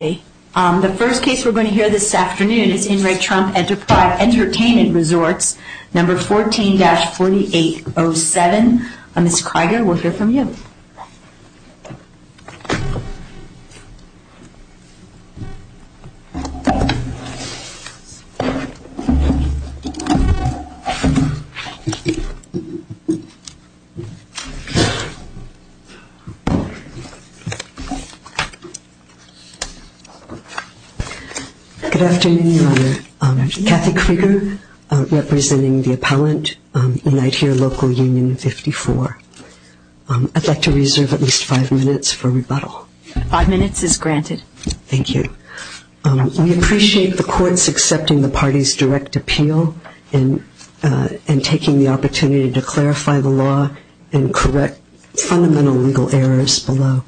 The first case we're going to hear this afternoon is in Re Trump Entertainment Resorts, number 14-4807. Ms. Kreiger, we'll hear from you. Good afternoon, Your Honor, Kathy Kreiger, representing the appellant in I'd Hear Local Union 54. I'd like to reserve at least five minutes for rebuttal. Five minutes is granted. Thank you. We appreciate the courts accepting the party's direct appeal and taking the opportunity to clarify the law and correct fundamental legal errors below.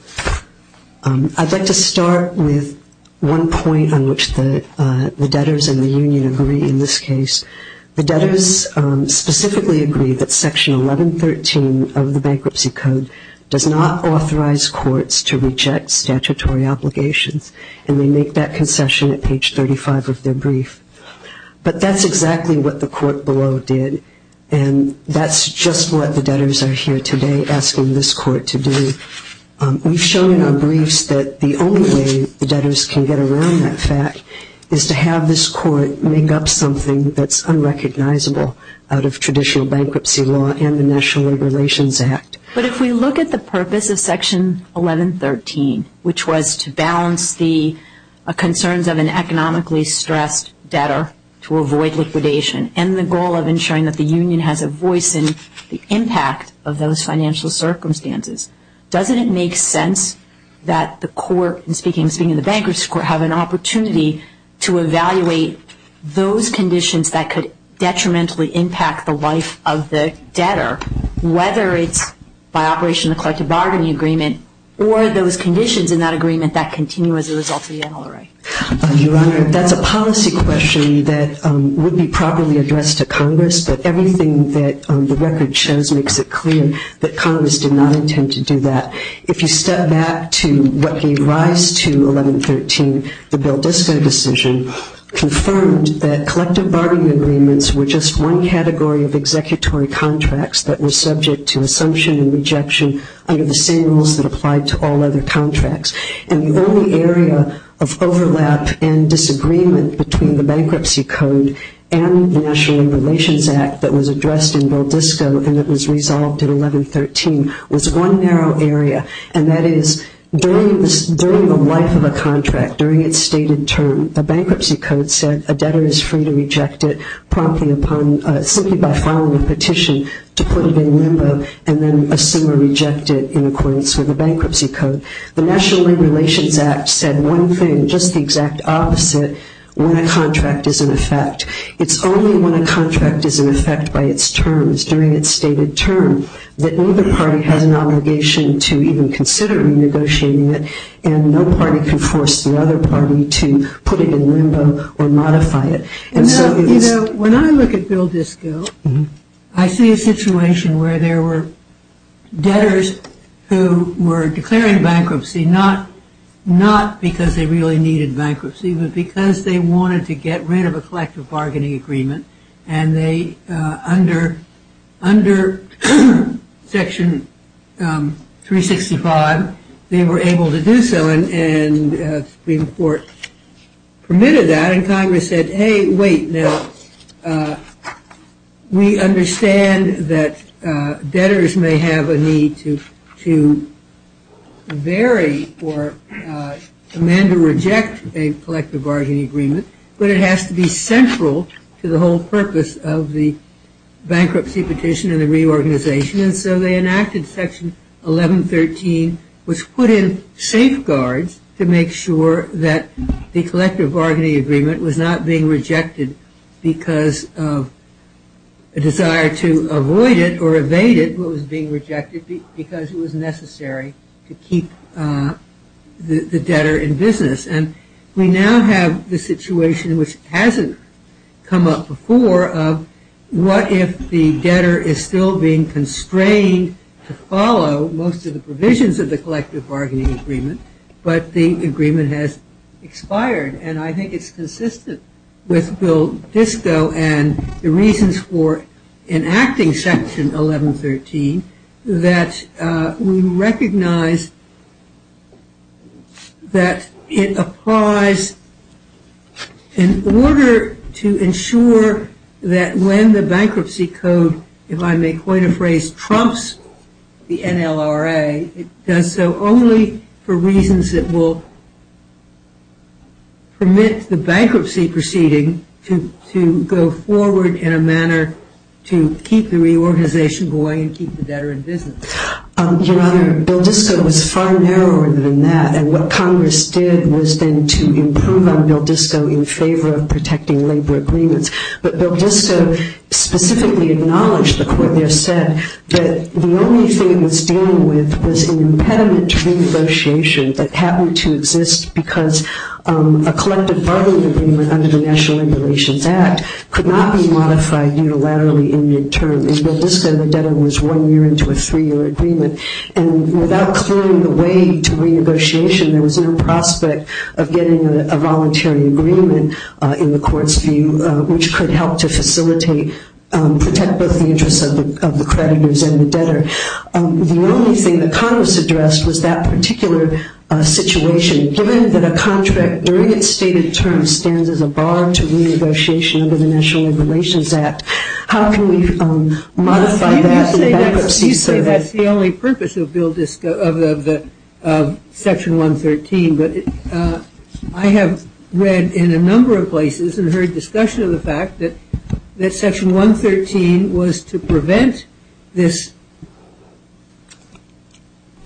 I'd like to start with one point on which the debtors and the union agree in this case. The debtors specifically agree that Section 1113 of the Bankruptcy Code does not authorize courts to reject statutory obligations, and they make that concession at page 35 of their brief. But that's exactly what the court below did, and that's just what the debtors are here today asking this court to do. We've shown in our briefs that the only way the debtors can get around that fact is to have this court make up something that's unrecognizable out of traditional bankruptcy law and the National Labor Relations Act. But if we look at the purpose of Section 1113, which was to balance the concerns of an economically stressed debtor to avoid liquidation and the goal of ensuring that the union has a voice in the impact of those financial circumstances, doesn't it make sense that the court, and those conditions that could detrimentally impact the life of the debtor, whether it's by operation of the collective bargaining agreement or those conditions in that agreement that continue as a result of the NLRA? Your Honor, that's a policy question that would be properly addressed to Congress, but everything that the record shows makes it clear that Congress did not intend to do that. If you step back to what gave rise to 1113, the Bill Disco decision confirmed that collective bargaining agreements were just one category of executory contracts that were subject to assumption and rejection under the same rules that applied to all other contracts. And the only area of overlap and disagreement between the Bankruptcy Code and the National Labor Relations Act that was addressed in Bill Disco and that was resolved in 1113 was one narrow area, and that is during the life of a contract, during its stated term, the Bankruptcy Code said a debtor is free to reject it promptly upon, simply by filing a petition to put it in limbo and then assume or reject it in accordance with the Bankruptcy Code. The National Labor Relations Act said one thing, just the exact opposite, when a contract is in effect. It's only when a contract is in effect by its terms, during its stated term, that either party has an obligation to even consider renegotiating it and no party can force the other party to put it in limbo or modify it. And so, you know, when I look at Bill Disco, I see a situation where there were debtors who were declaring bankruptcy not because they really needed bankruptcy, but because they wanted to get rid of a collective bargaining agreement and they, under Section 365, they were able to do so and the Supreme Court permitted that and Congress said, hey, wait, now, we understand that debtors may have a need to vary or amend or reject a collective bargaining agreement, but it has to be central to the whole purpose of the bankruptcy petition and the reorganization and so they enacted Section 1113, which put in safeguards to make sure that the collective bargaining agreement was not being rejected because of a desire to avoid it or evade it was being rejected because it was necessary to keep the debtor in business. And we now have the situation, which hasn't come up before, of what if the debtor is still being constrained to follow most of the provisions of the collective bargaining agreement, but the agreement has expired. And I think it's consistent with Bill Disco and the reasons for enacting Section 1113 that we recognize that in order to keep the debtor in business the NLRA applies, in order to ensure that when the bankruptcy code, if I may coin a phrase, trumps the NLRA, it does so only for reasons that will permit the bankruptcy proceeding to go forward in a manner to keep the reorganization going and keep the debtor in business. Your Honor, Bill Disco was far narrower than that and what Congress did was then to improve on Bill Disco in favor of protecting labor agreements. But Bill Disco specifically acknowledged, the Court there said, that the only thing it was dealing with was an impediment to renegotiation that happened to exist because a collective bargaining agreement under the National Regulations Act could not be modified unilaterally in midterm. In Bill Disco, the debtor was one year into a three-year agreement and without clearing the way to renegotiation, there was no prospect of getting a voluntary agreement in the Court's view, which could help to facilitate, protect both the interests of the creditors and the debtor. The only thing that Congress addressed was that particular situation. Given that a contract during its stated term stands as a bar to renegotiation under the National Regulations Act, how can we modify that in bankruptcy? You say that's the only purpose of Section 113, but I have read in a number of places and heard discussion of the fact that Section 113 was to prevent this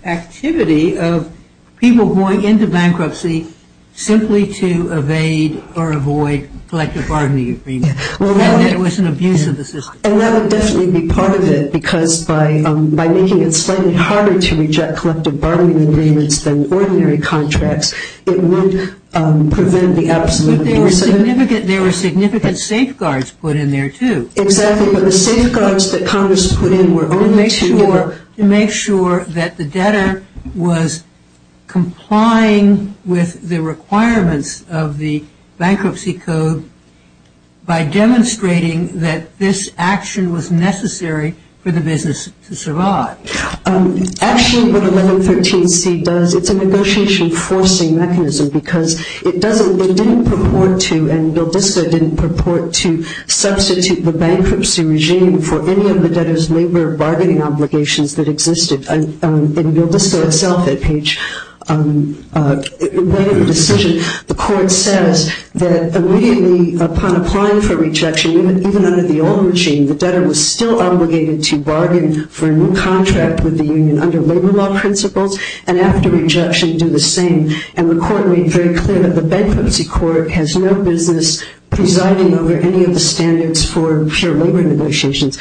activity of people going into bankruptcy simply to evade or avoid collective bargaining agreements. It was an abuse of the system. And that would definitely be part of it, because by making it slightly harder to reject collective bargaining agreements than ordinary contracts, it would prevent the absolute abuse of it. But there were significant safeguards put in there, too. Exactly, but the safeguards that Congress put in were only to make sure that the debtor was complying with the requirements of the Bankruptcy Code by demonstrating that this action was necessary for the business to survive. Actually, what 1113C does, it's a negotiation forcing mechanism, because it doesn't, it didn't purport to, and BILDISCO didn't purport to, substitute the bankruptcy regime for any of the debtor's labor bargaining obligations that existed. In BILDISCO itself, at Page 1 of the decision, the Court says that immediately upon applying for rejection, even under the old regime, the debtor was still obligated to bargain for a new contract with the union under labor law principles, and after rejection do the same. And the Court made very clear that the Bankruptcy Court has no business presiding over any of the standards for pure labor negotiations.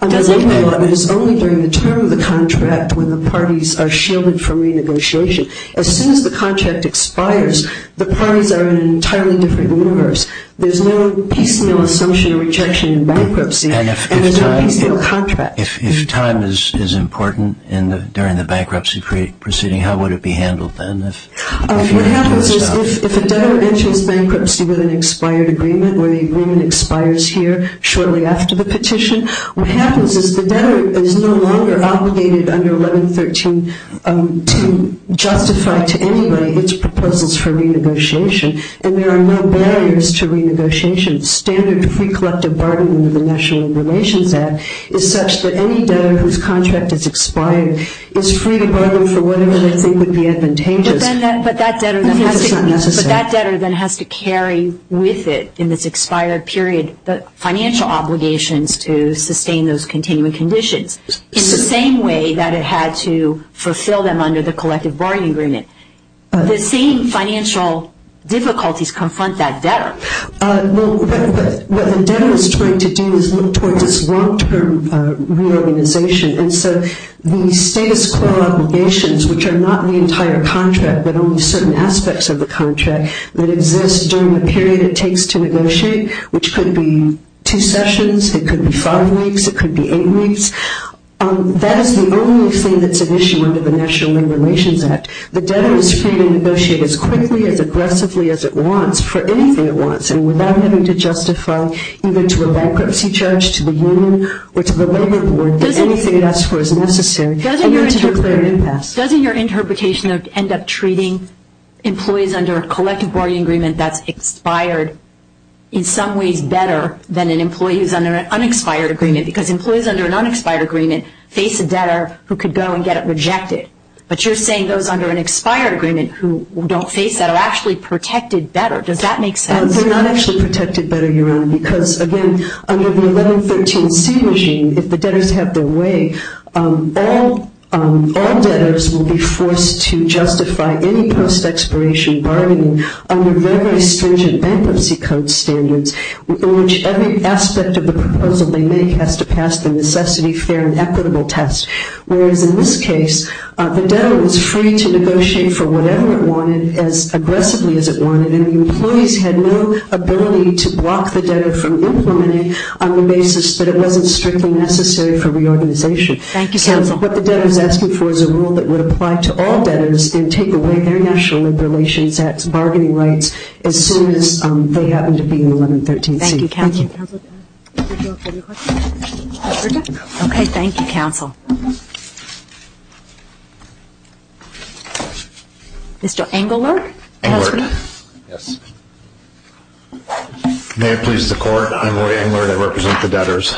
Under labor law, it is only during the term of the contract when the parties are shielded from renegotiation. As soon as the contract expires, the parties are in an entirely different universe. There's no piecemeal assumption of rejection in bankruptcy, and there's no piecemeal contract. And if time is important during the bankruptcy proceeding, how would it be handled then? What happens is if a debtor enters bankruptcy with an expired agreement, or the agreement expires here shortly after the petition, what happens is the debtor is no longer obligated under 1113 to justify to anybody its proposals for renegotiation, and there are no barriers to renegotiation. The standard free collective bargain under the National Labor Relations Act is such that any debtor whose contract has expired is free to bargain for whatever they think would be advantageous. But that debtor then has to carry with it in this expired period the financial obligations to sustain those continuing conditions in the same way that it had to fulfill them under the collective bargaining agreement. The same financial difficulties confront that debtor. Well, what the debtor is trying to do is look towards its long-term reorganization. And so the status quo obligations, which are not the entire contract but only certain aspects of the contract that exist during the period it takes to negotiate, which could be two sessions, it could be five weeks, it could be eight weeks, that is the only thing that's an issue under the National Labor Relations Act. The debtor is free to negotiate as quickly, as aggressively as it wants for anything it wants, and without having to justify either to a bankruptcy charge to the union or to the labor board that anything it asks for is necessary. Doesn't your interpretation end up treating employees under a collective bargaining agreement that's expired in some ways better than an employee who's under an unexpired agreement? Because employees under an unexpired agreement face a debtor who could go and get it rejected. But you're saying those under an expired agreement who don't face that are actually protected better. Does that make sense? They're not actually protected better, Your Honor, because, again, under the 1113C regime, if the debtors have their way, all debtors will be forced to justify any post-expiration bargaining under very, very stringent bankruptcy code standards in which every aspect of the proposal they make has to pass the necessity, fair, and equitable test. Whereas in this case, the debtor was free to negotiate for whatever it wanted as aggressively as it wanted, and the employees had no ability to block the debtor from implementing on the basis that it wasn't strictly necessary for reorganization. Thank you, counsel. So what the debtor is asking for is a rule that would apply to all debtors and take away their National Liberations Act bargaining rights as soon as they happen to be in the Thank you, counsel. Thank you, counsel. Okay, thank you, counsel. Mr. Engelert. Engelert. Yes. May it please the Court, I'm Roy Engelert. I represent the debtors.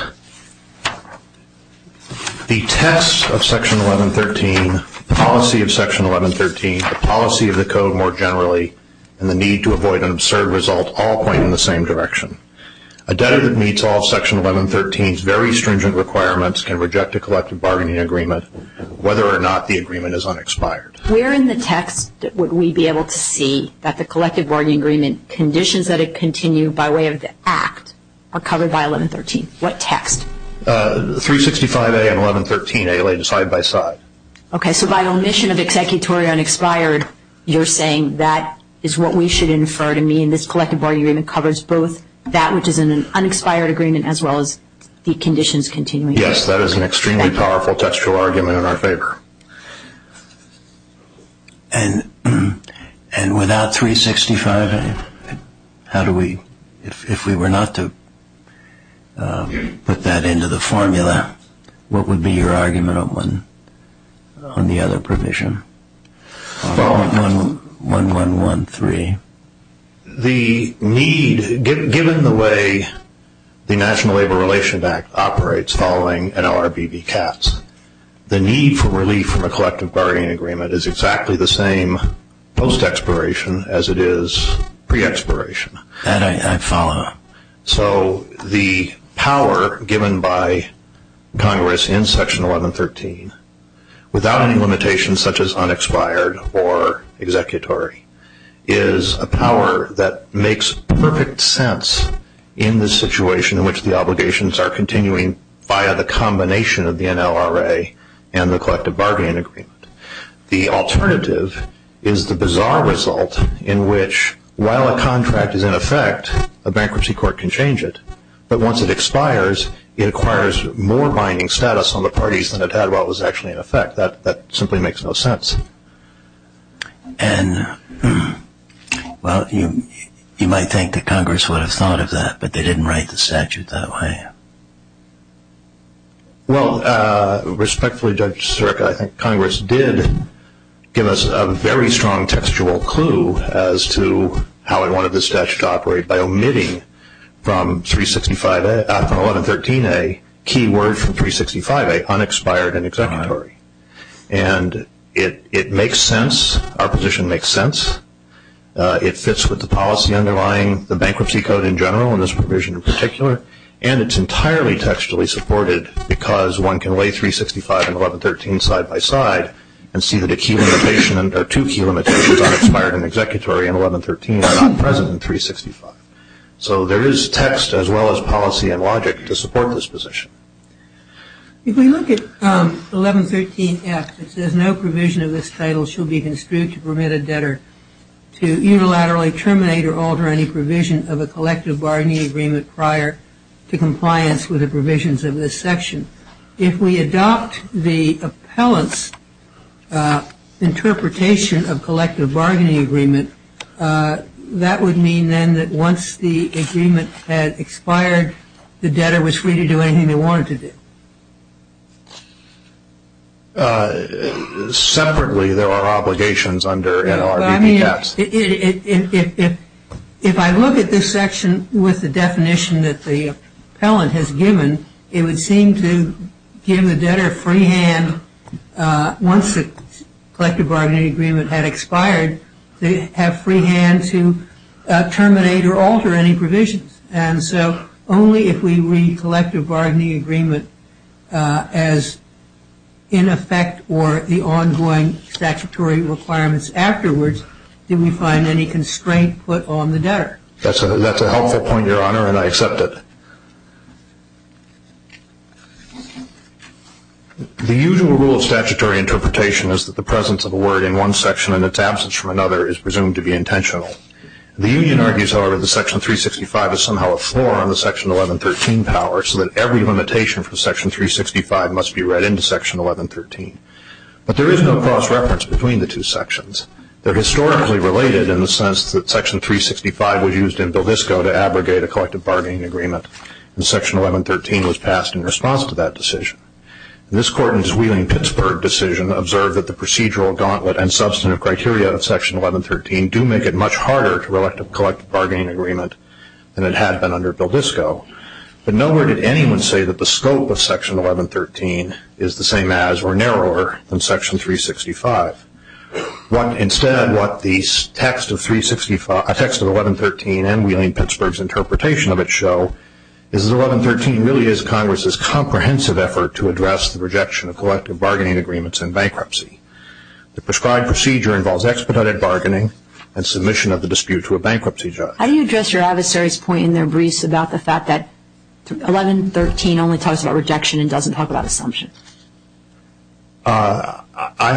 The test of Section 1113, the policy of Section 1113, the policy of the code more generally, and the need to avoid an absurd result all point in the same direction. A debtor that meets all of Section 1113's very stringent requirements can reject a collective bargaining agreement, whether or not the agreement is unexpired. Where in the text would we be able to see that the collective bargaining agreement conditions that it continue by way of the Act are covered by 1113? What text? 365A and 1113A laid side by side. Okay, so by omission of executory unexpired, you're saying that is what we should infer to mean this collective bargaining agreement covers both that which is an unexpired agreement as well as the conditions continuing. Yes, that is an extremely powerful textual argument in our favor. And without 365A, how do we, if we were not to put that into the formula, what would be your argument on the other provision, on 1113? The need, given the way the National Labor Relations Act operates following NLRBVCATS, the need for relief from a collective bargaining agreement is exactly the same post-expiration as it is pre-expiration. And I follow. So the power given by Congress in Section 1113, without any limitations such as unexpired or executory, is a power that makes perfect sense in the situation in which the obligations are continuing via the combination of the NLRA and the collective bargaining agreement. The alternative is the bizarre result in which while a contract is in effect, a bankruptcy court can change it. But once it expires, it acquires more binding status on the parties than it had while it was actually in effect. That simply makes no sense. And, well, you might think that Congress would have thought of that, but they didn't write the statute that way. Well, respectfully, Judge Sirka, I think Congress did give us a very strong textual clue as to how it wanted the statute to operate by omitting from 1113a key word from 365a, unexpired and executory. And it makes sense. Our position makes sense. It fits with the policy underlying the bankruptcy code in general and this provision in particular. And it's entirely textually supported because one can lay 365 and 1113 side by side and see that a key limitation or two key limitations, unexpired and executory and 1113 are not present in 365. So there is text as well as policy and logic to support this position. If we look at 1113f, it says, no provision of this title shall be construed to permit a debtor to unilaterally terminate or alter any provision of a collective bargaining agreement prior to compliance with the provisions of this section. If we adopt the appellant's interpretation of collective bargaining agreement, that would mean then that once the agreement had expired, the debtor was free to do anything they wanted to do. Separately, there are obligations under NLRBPS. If I look at this section with the definition that the appellant has given, it would seem to give the debtor free hand once the collective bargaining agreement had expired, to have free hand to terminate or alter any provisions. And so only if we read collective bargaining agreement as in effect or the ongoing statutory requirements afterwards do we find any constraint put on the debtor. That's a helpful point, Your Honor, and I accept it. The usual rule of statutory interpretation is that the presence of a word in one section in its absence from another is presumed to be intentional. The union argues, however, that section 365 is somehow a floor on the section 1113 power, so that every limitation from section 365 must be read into section 1113. But there is no cross-reference between the two sections. They're historically related in the sense that section 365 was used in Bilbisco to abrogate a collective bargaining agreement, and section 1113 was passed in response to that decision. This court in its Wheeling-Pittsburgh decision observed that the procedural gauntlet and substantive criteria of section 1113 do make it much harder to elect a collective bargaining agreement than it had been under Bilbisco. But nowhere did anyone say that the scope of section 1113 is the same as or narrower than section 365. Instead, what the text of 1113 and Wheeling-Pittsburgh's interpretation of it show is that 1113 really is Congress's comprehensive effort to address the rejection of collective bargaining agreements in bankruptcy. The prescribed procedure involves expedited bargaining and submission of the dispute to a bankruptcy judge. How do you address your adversary's point in there, Brice, about the fact that 1113 only talks about rejection and doesn't talk about assumption? I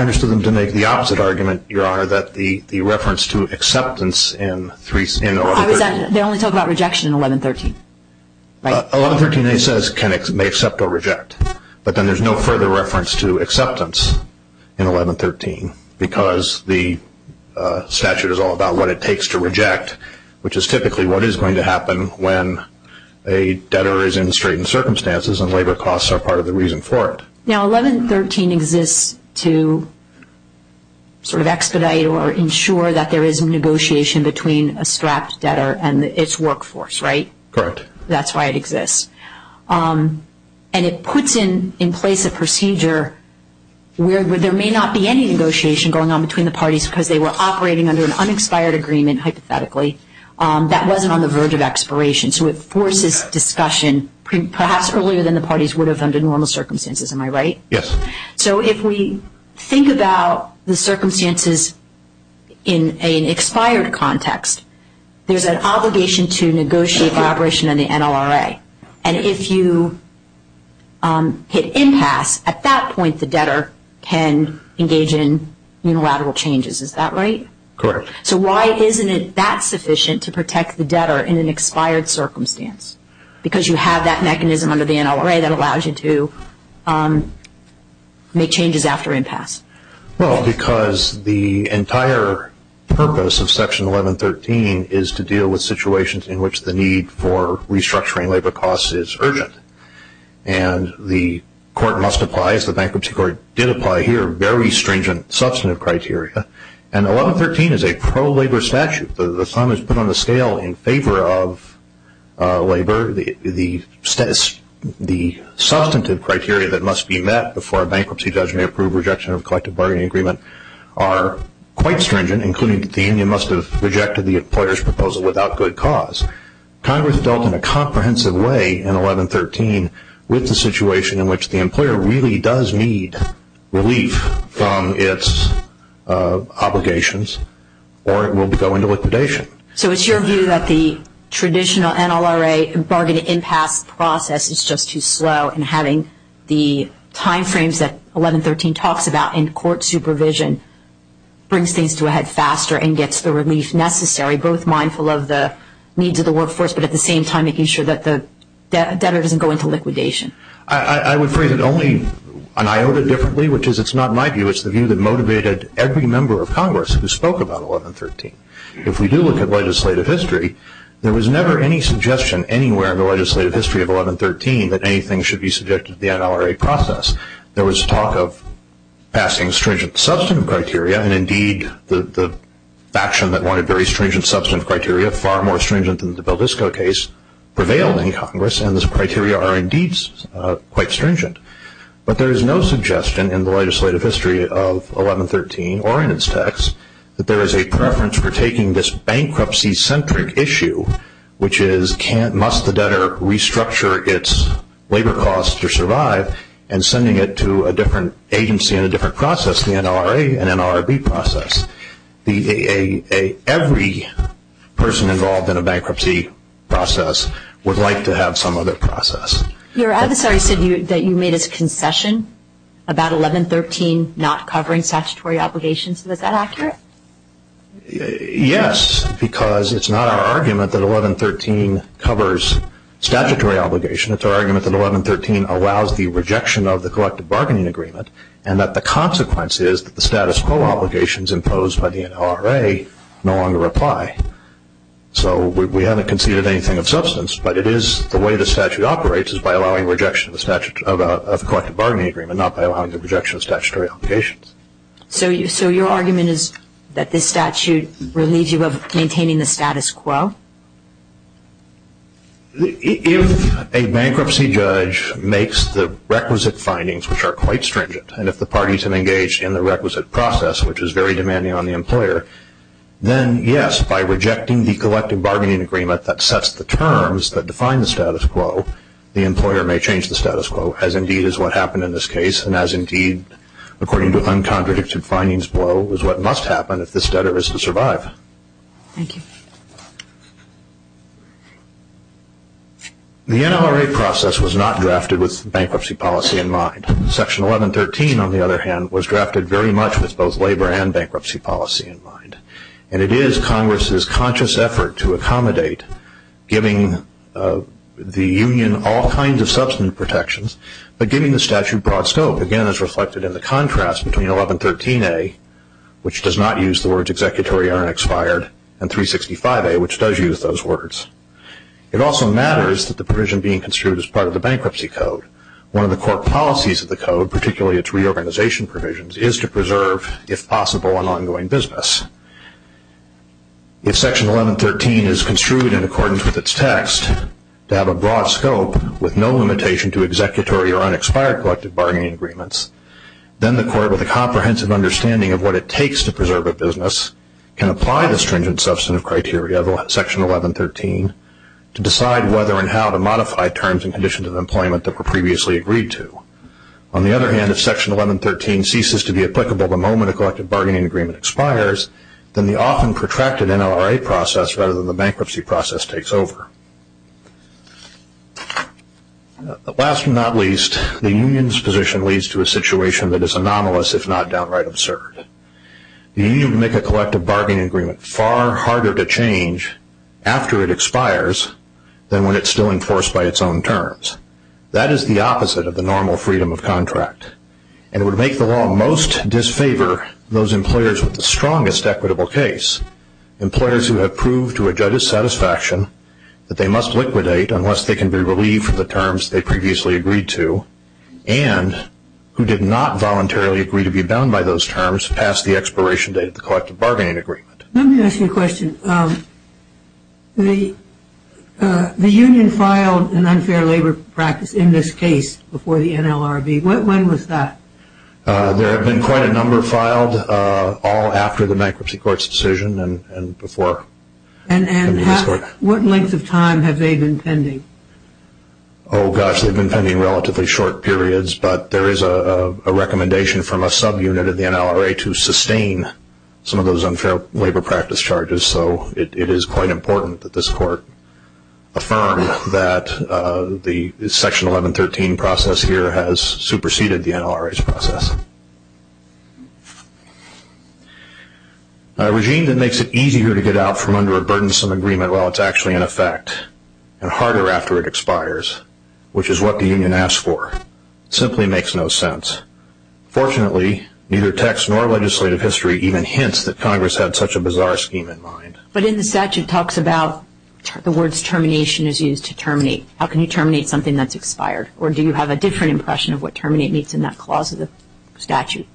understood them to make the opposite argument, Your Honor, that the reference to acceptance in 1113. They only talk about rejection in 1113, right? 1113, it says, may accept or reject. But then there's no further reference to acceptance in 1113 because the statute is all about what it takes to reject, which is typically what is going to happen when a debtor is in straitened circumstances and labor costs are part of the reason for it. Now, 1113 exists to sort of expedite or ensure that there is negotiation between a strapped debtor and its workforce, right? Correct. That's why it exists. And it puts in place a procedure where there may not be any negotiation going on between the parties because they were operating under an unexpired agreement, hypothetically, that wasn't on the verge of expiration. So it forces discussion perhaps earlier than the parties would have under normal circumstances. Am I right? Yes. So if we think about the circumstances in an expired context, there's an obligation to negotiate cooperation in the NLRA. And if you hit impasse, at that point the debtor can engage in unilateral changes. Is that right? Correct. So why isn't it that sufficient to protect the debtor in an expired circumstance? Because you have that mechanism under the NLRA that allows you to make changes after impasse. Well, because the entire purpose of Section 1113 is to deal with situations in which the need for restructuring labor costs is urgent. And the court must apply, as the Bankruptcy Court did apply here, very stringent substantive criteria. And 1113 is a pro-labor statute. The sum is put on the scale in favor of labor. The substantive criteria that must be met before a bankruptcy judgment, approved rejection of a collective bargaining agreement, are quite stringent, including that the union must have rejected the employer's proposal without good cause. Congress dealt in a comprehensive way in 1113 with the situation in which the employer really does need relief from its obligations or it will go into liquidation. So it's your view that the traditional NLRA bargaining impasse process is just too slow and having the timeframes that 1113 talks about in court supervision brings things to a head faster and gets the relief necessary, both mindful of the needs of the workforce, but at the same time making sure that the debtor doesn't go into liquidation. I would phrase it only an iota differently, which is it's not my view. It's the view that motivated every member of Congress who spoke about 1113. If we do look at legislative history, there was never any suggestion anywhere in the legislative history of 1113 that anything should be subjected to the NLRA process. There was talk of passing stringent substantive criteria, and indeed the faction that wanted very stringent substantive criteria, far more stringent than the Bilisco case, prevailed in Congress, and those criteria are indeed quite stringent. But there is no suggestion in the legislative history of 1113 or in its text that there is a preference for taking this bankruptcy-centric issue, which is must the debtor restructure its labor costs to survive, and sending it to a different agency in a different process, the NLRA and NLRB process. Every person involved in a bankruptcy process would like to have some other process. Your adversary said that you made a concession about 1113 not covering statutory obligations. Is that accurate? Yes, because it's not our argument that 1113 covers statutory obligations. It's our argument that 1113 allows the rejection of the collective bargaining agreement and that the consequence is that the status quo obligations imposed by the NLRA no longer apply. So we haven't conceded anything of substance, but it is the way the statute operates, is by allowing rejection of the collective bargaining agreement, not by allowing the rejection of statutory obligations. So your argument is that this statute relieves you of maintaining the status quo? If a bankruptcy judge makes the requisite findings, which are quite stringent, and if the parties have engaged in the requisite process, which is very demanding on the employer, then yes, by rejecting the collective bargaining agreement that sets the terms that define the status quo, the employer may change the status quo, as indeed is what happened in this case, and as indeed, according to uncontradicted findings below, is what must happen if this debtor is to survive. Thank you. The NLRA process was not drafted with bankruptcy policy in mind. Section 1113, on the other hand, was drafted very much with both labor and bankruptcy policy in mind, and it is Congress's conscious effort to accommodate giving the union all kinds of substance protections, but giving the statute broad scope, again, as reflected in the contrast between 1113A, which does not use the words executory error and expired, and 365A, which does use those words. It also matters that the provision being construed as part of the bankruptcy code, one of the core policies of the code, particularly its reorganization provisions, is to preserve, if possible, an ongoing business. If Section 1113 is construed in accordance with its text, to have a broad scope with no limitation to executory or unexpired collective bargaining agreements, then the court, with a comprehensive understanding of what it takes to preserve a business, can apply the stringent substantive criteria of Section 1113 to decide whether and how to modify terms and conditions of employment that were previously agreed to. On the other hand, if Section 1113 ceases to be applicable the moment a collective bargaining agreement expires, then the often protracted NLRA process, rather than the bankruptcy process, takes over. Last but not least, the union's position leads to a situation that is anomalous, if not downright absurd. The union would make a collective bargaining agreement far harder to change after it expires than when it's still enforced by its own terms. That is the opposite of the normal freedom of contract, and it would make the law most disfavor those employers with the strongest equitable case, employers who have proved to a judge's satisfaction that they must liquidate unless they can be relieved from the terms they previously agreed to, and who did not voluntarily agree to be bound by those terms past the expiration date of the collective bargaining agreement. Let me ask you a question. The union filed an unfair labor practice in this case before the NLRB. When was that? There have been quite a number filed all after the bankruptcy court's decision and before. And what lengths of time have they been pending? Oh, gosh, they've been pending relatively short periods, but there is a recommendation from a subunit of the NLRA to sustain some of those unfair labor practice charges, so it is quite important that this court affirm that the Section 1113 process here has superseded the NLRA's process. A regime that makes it easier to get out from under a burdensome agreement while it's actually in effect and harder after it expires, which is what the union asked for, simply makes no sense. Fortunately, neither text nor legislative history even hints that Congress had such a bizarre scheme in mind. But in the statute it talks about the words termination is used to terminate. How can you terminate something that's expired? Or do you have a different impression of what terminate means in that clause of the statute?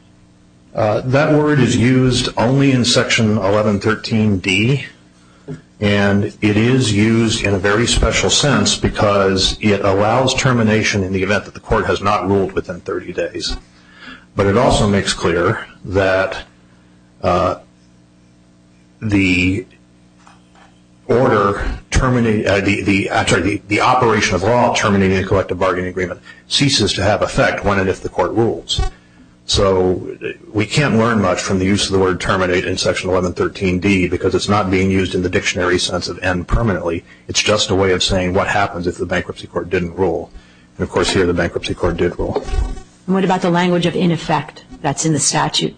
That word is used only in Section 1113d, and it is used in a very special sense because it allows termination in the event that the court has not ruled within 30 days. But it also makes clear that the operation of law terminating a collective bargaining agreement ceases to have effect when and if the court rules. So we can't learn much from the use of the word terminate in Section 1113d because it's not being used in the dictionary sense of end permanently. It's just a way of saying what happens if the bankruptcy court didn't rule. And, of course, here the bankruptcy court did rule. And what about the language of in effect that's in the statute? It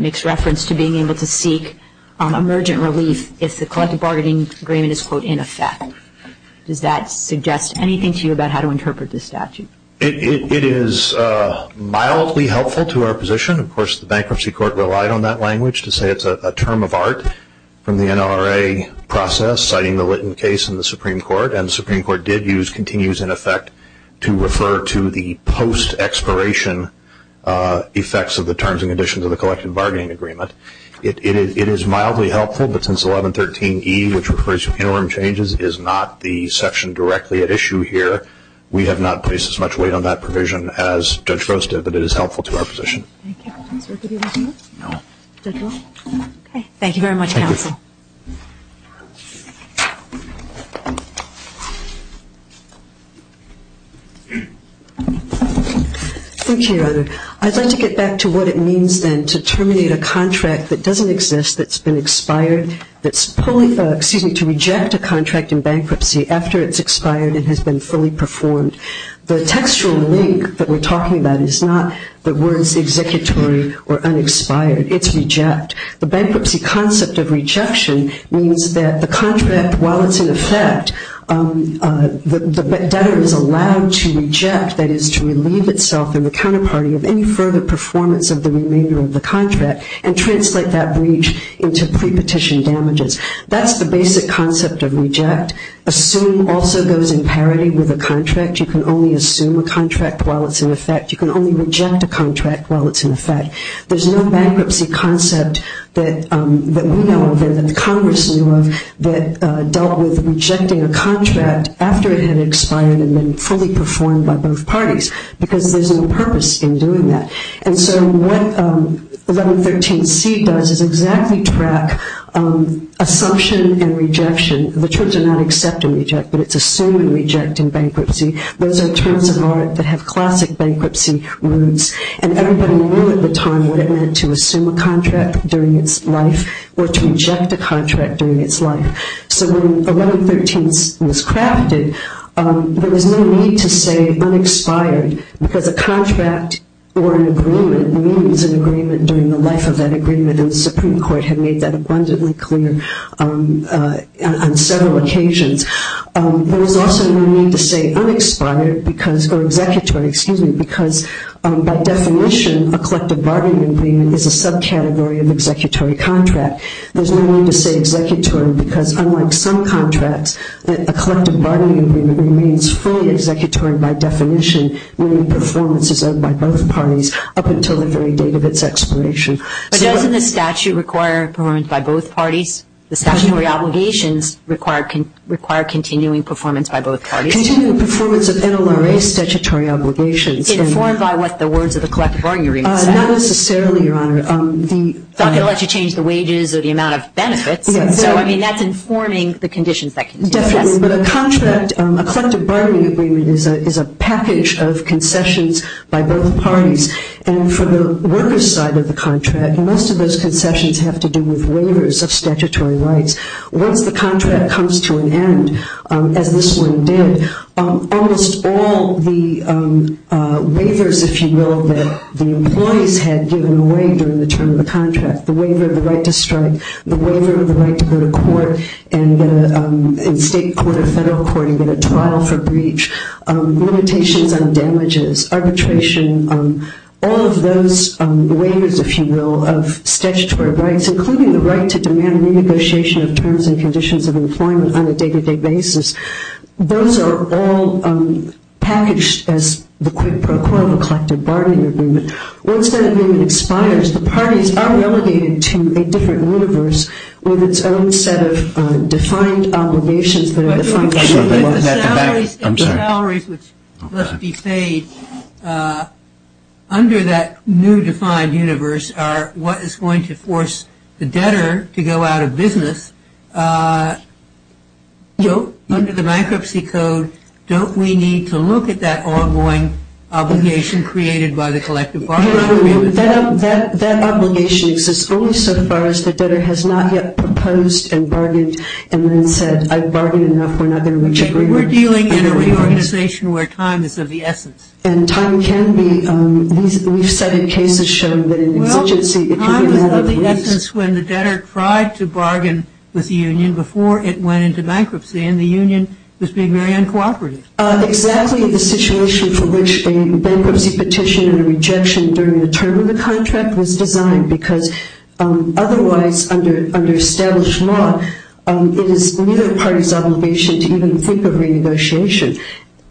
makes reference to being able to seek emergent relief if the collective bargaining agreement is, quote, in effect. Does that suggest anything to you about how to interpret this statute? It is mildly helpful to our position. Of course, the bankruptcy court relied on that language to say it's a term of art from the NRA process, citing the Litton case in the Supreme Court. And the Supreme Court did use continues in effect to refer to the post-expiration effects of the terms and conditions of the collective bargaining agreement. It is mildly helpful, but since 1113e, which refers to interim changes, is not the section directly at issue here, we have not placed as much weight on that provision as Judge Gross did. But it is helpful to our position. Thank you very much, Counsel. Thank you, Your Honor. I'd like to get back to what it means, then, to terminate a contract that doesn't exist, that's been expired, that's pulling, excuse me, to reject a contract in bankruptcy after it's expired and has been fully performed. The textual link that we're talking about is not the words exist, or unexpired. It's reject. The bankruptcy concept of rejection means that the contract, while it's in effect, the debtor is allowed to reject, that is, to relieve itself and the counterparty of any further performance of the remainder of the contract and translate that breach into pre-petition damages. That's the basic concept of reject. Assume also goes in parity with a contract. You can only assume a contract while it's in effect. You can only reject a contract while it's in effect. There's no bankruptcy concept that we know of and that the Congress knew of that dealt with rejecting a contract after it had expired and been fully performed by both parties because there's no purpose in doing that. And so what 1113C does is exactly track assumption and rejection. The terms are not accept and reject, but it's assume and reject in bankruptcy. Those are terms of art that have classic bankruptcy roots, and everybody knew at the time what it meant to assume a contract during its life or to reject a contract during its life. So when 1113 was crafted, there was no need to say unexpired because a contract or an agreement means an agreement during the life of that agreement, and the Supreme Court had made that abundantly clear on several occasions. There was also no need to say unexpired because, or executory, excuse me, because by definition a collective bargaining agreement is a subcategory of executory contract. There's no need to say executory because unlike some contracts, a collective bargaining agreement remains fully executory by definition when the performance is owned by both parties up until the very date of its expiration. But doesn't the statute require performance by both parties? The statutory obligations require continuing performance by both parties. Continuing performance of NLRA statutory obligations. Informed by what the words of the collective bargaining agreement say. Not necessarily, Your Honor. It's not going to let you change the wages or the amount of benefits. So, I mean, that's informing the conditions that continue. Definitely. But a contract, a collective bargaining agreement is a package of concessions by both parties, and for the worker's side of the contract, most of those concessions have to do with waivers of statutory rights. Once the contract comes to an end, as this one did, almost all the waivers, if you will, that the employees had given away during the term of the contract, the waiver of the right to strike, the waiver of the right to go to court and state court or federal court and get a trial for breach, limitations on damages, arbitration, all of those waivers, if you will, of statutory rights, including the right to demand renegotiation of terms and conditions of employment on a day-to-day basis, those are all packaged as the quid pro quo of a collective bargaining agreement. Once that agreement expires, the parties are relegated to a different universe with its own set of defined obligations that are defined by the law. If the salaries which must be paid under that new defined universe are what is going to force the debtor to go out of business, under the bankruptcy code, don't we need to look at that ongoing obligation created by the collective bargaining agreement? That obligation exists only so far as the debtor has not yet proposed and bargained and then said I've bargained enough, we're not going to reach agreement. We're dealing in a reorganization where time is of the essence. And time can be, we've said in cases shown that an exigency, if you can have it, works. Well, time is of the essence when the debtor tried to bargain with the union before it went into bankruptcy and the union was being very uncooperative. Exactly the situation for which a bankruptcy petition and a rejection during the term of the contract was designed because otherwise under established law it is neither party's obligation to even think of renegotiation.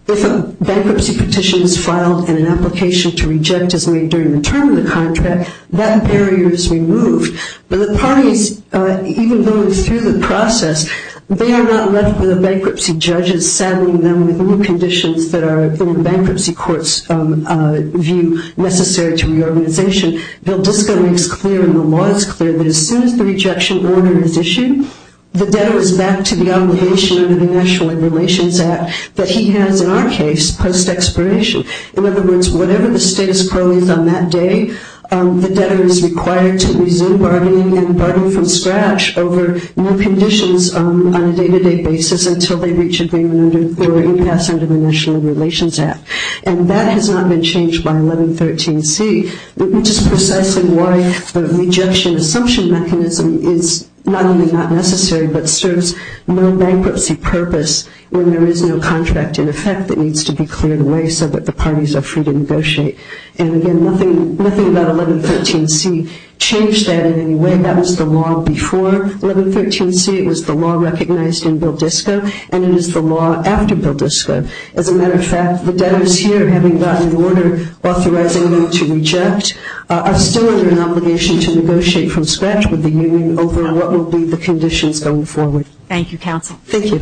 If a bankruptcy petition is filed and an application to reject is made during the term of the contract, that barrier is removed. But the parties, even though it's through the process, they are not left with the bankruptcy judges settling them with new conditions that are in the bankruptcy court's view necessary to reorganization. Valdisca makes clear and the law is clear that as soon as the rejection order is issued, the debtor is back to the obligation under the National Labor Relations Act that he has, in our case, post-expiration. In other words, whatever the status quo is on that day, the debtor is required to resume bargaining and bargain from scratch over new conditions on a day-to-day basis until they reach agreement or impasse under the National Labor Relations Act. And that has not been changed by 1113C, which is precisely why the rejection assumption mechanism is not only not necessary but serves no bankruptcy purpose when there is no contract in effect that needs to be cleared away so that the parties are free to negotiate. And again, nothing about 1113C changed that in any way. That was the law before 1113C. It was the law recognized in Valdisca and it is the law after Valdisca. As a matter of fact, the debtors here, having gotten an order authorizing them to reject, are still under an obligation to negotiate from scratch with the union over what will be the conditions going forward. Thank you, counsel. Thank you.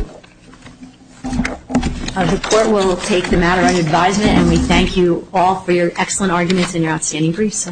The court will take the matter under advisement and we thank you all for your excellent arguments and your outstanding briefs.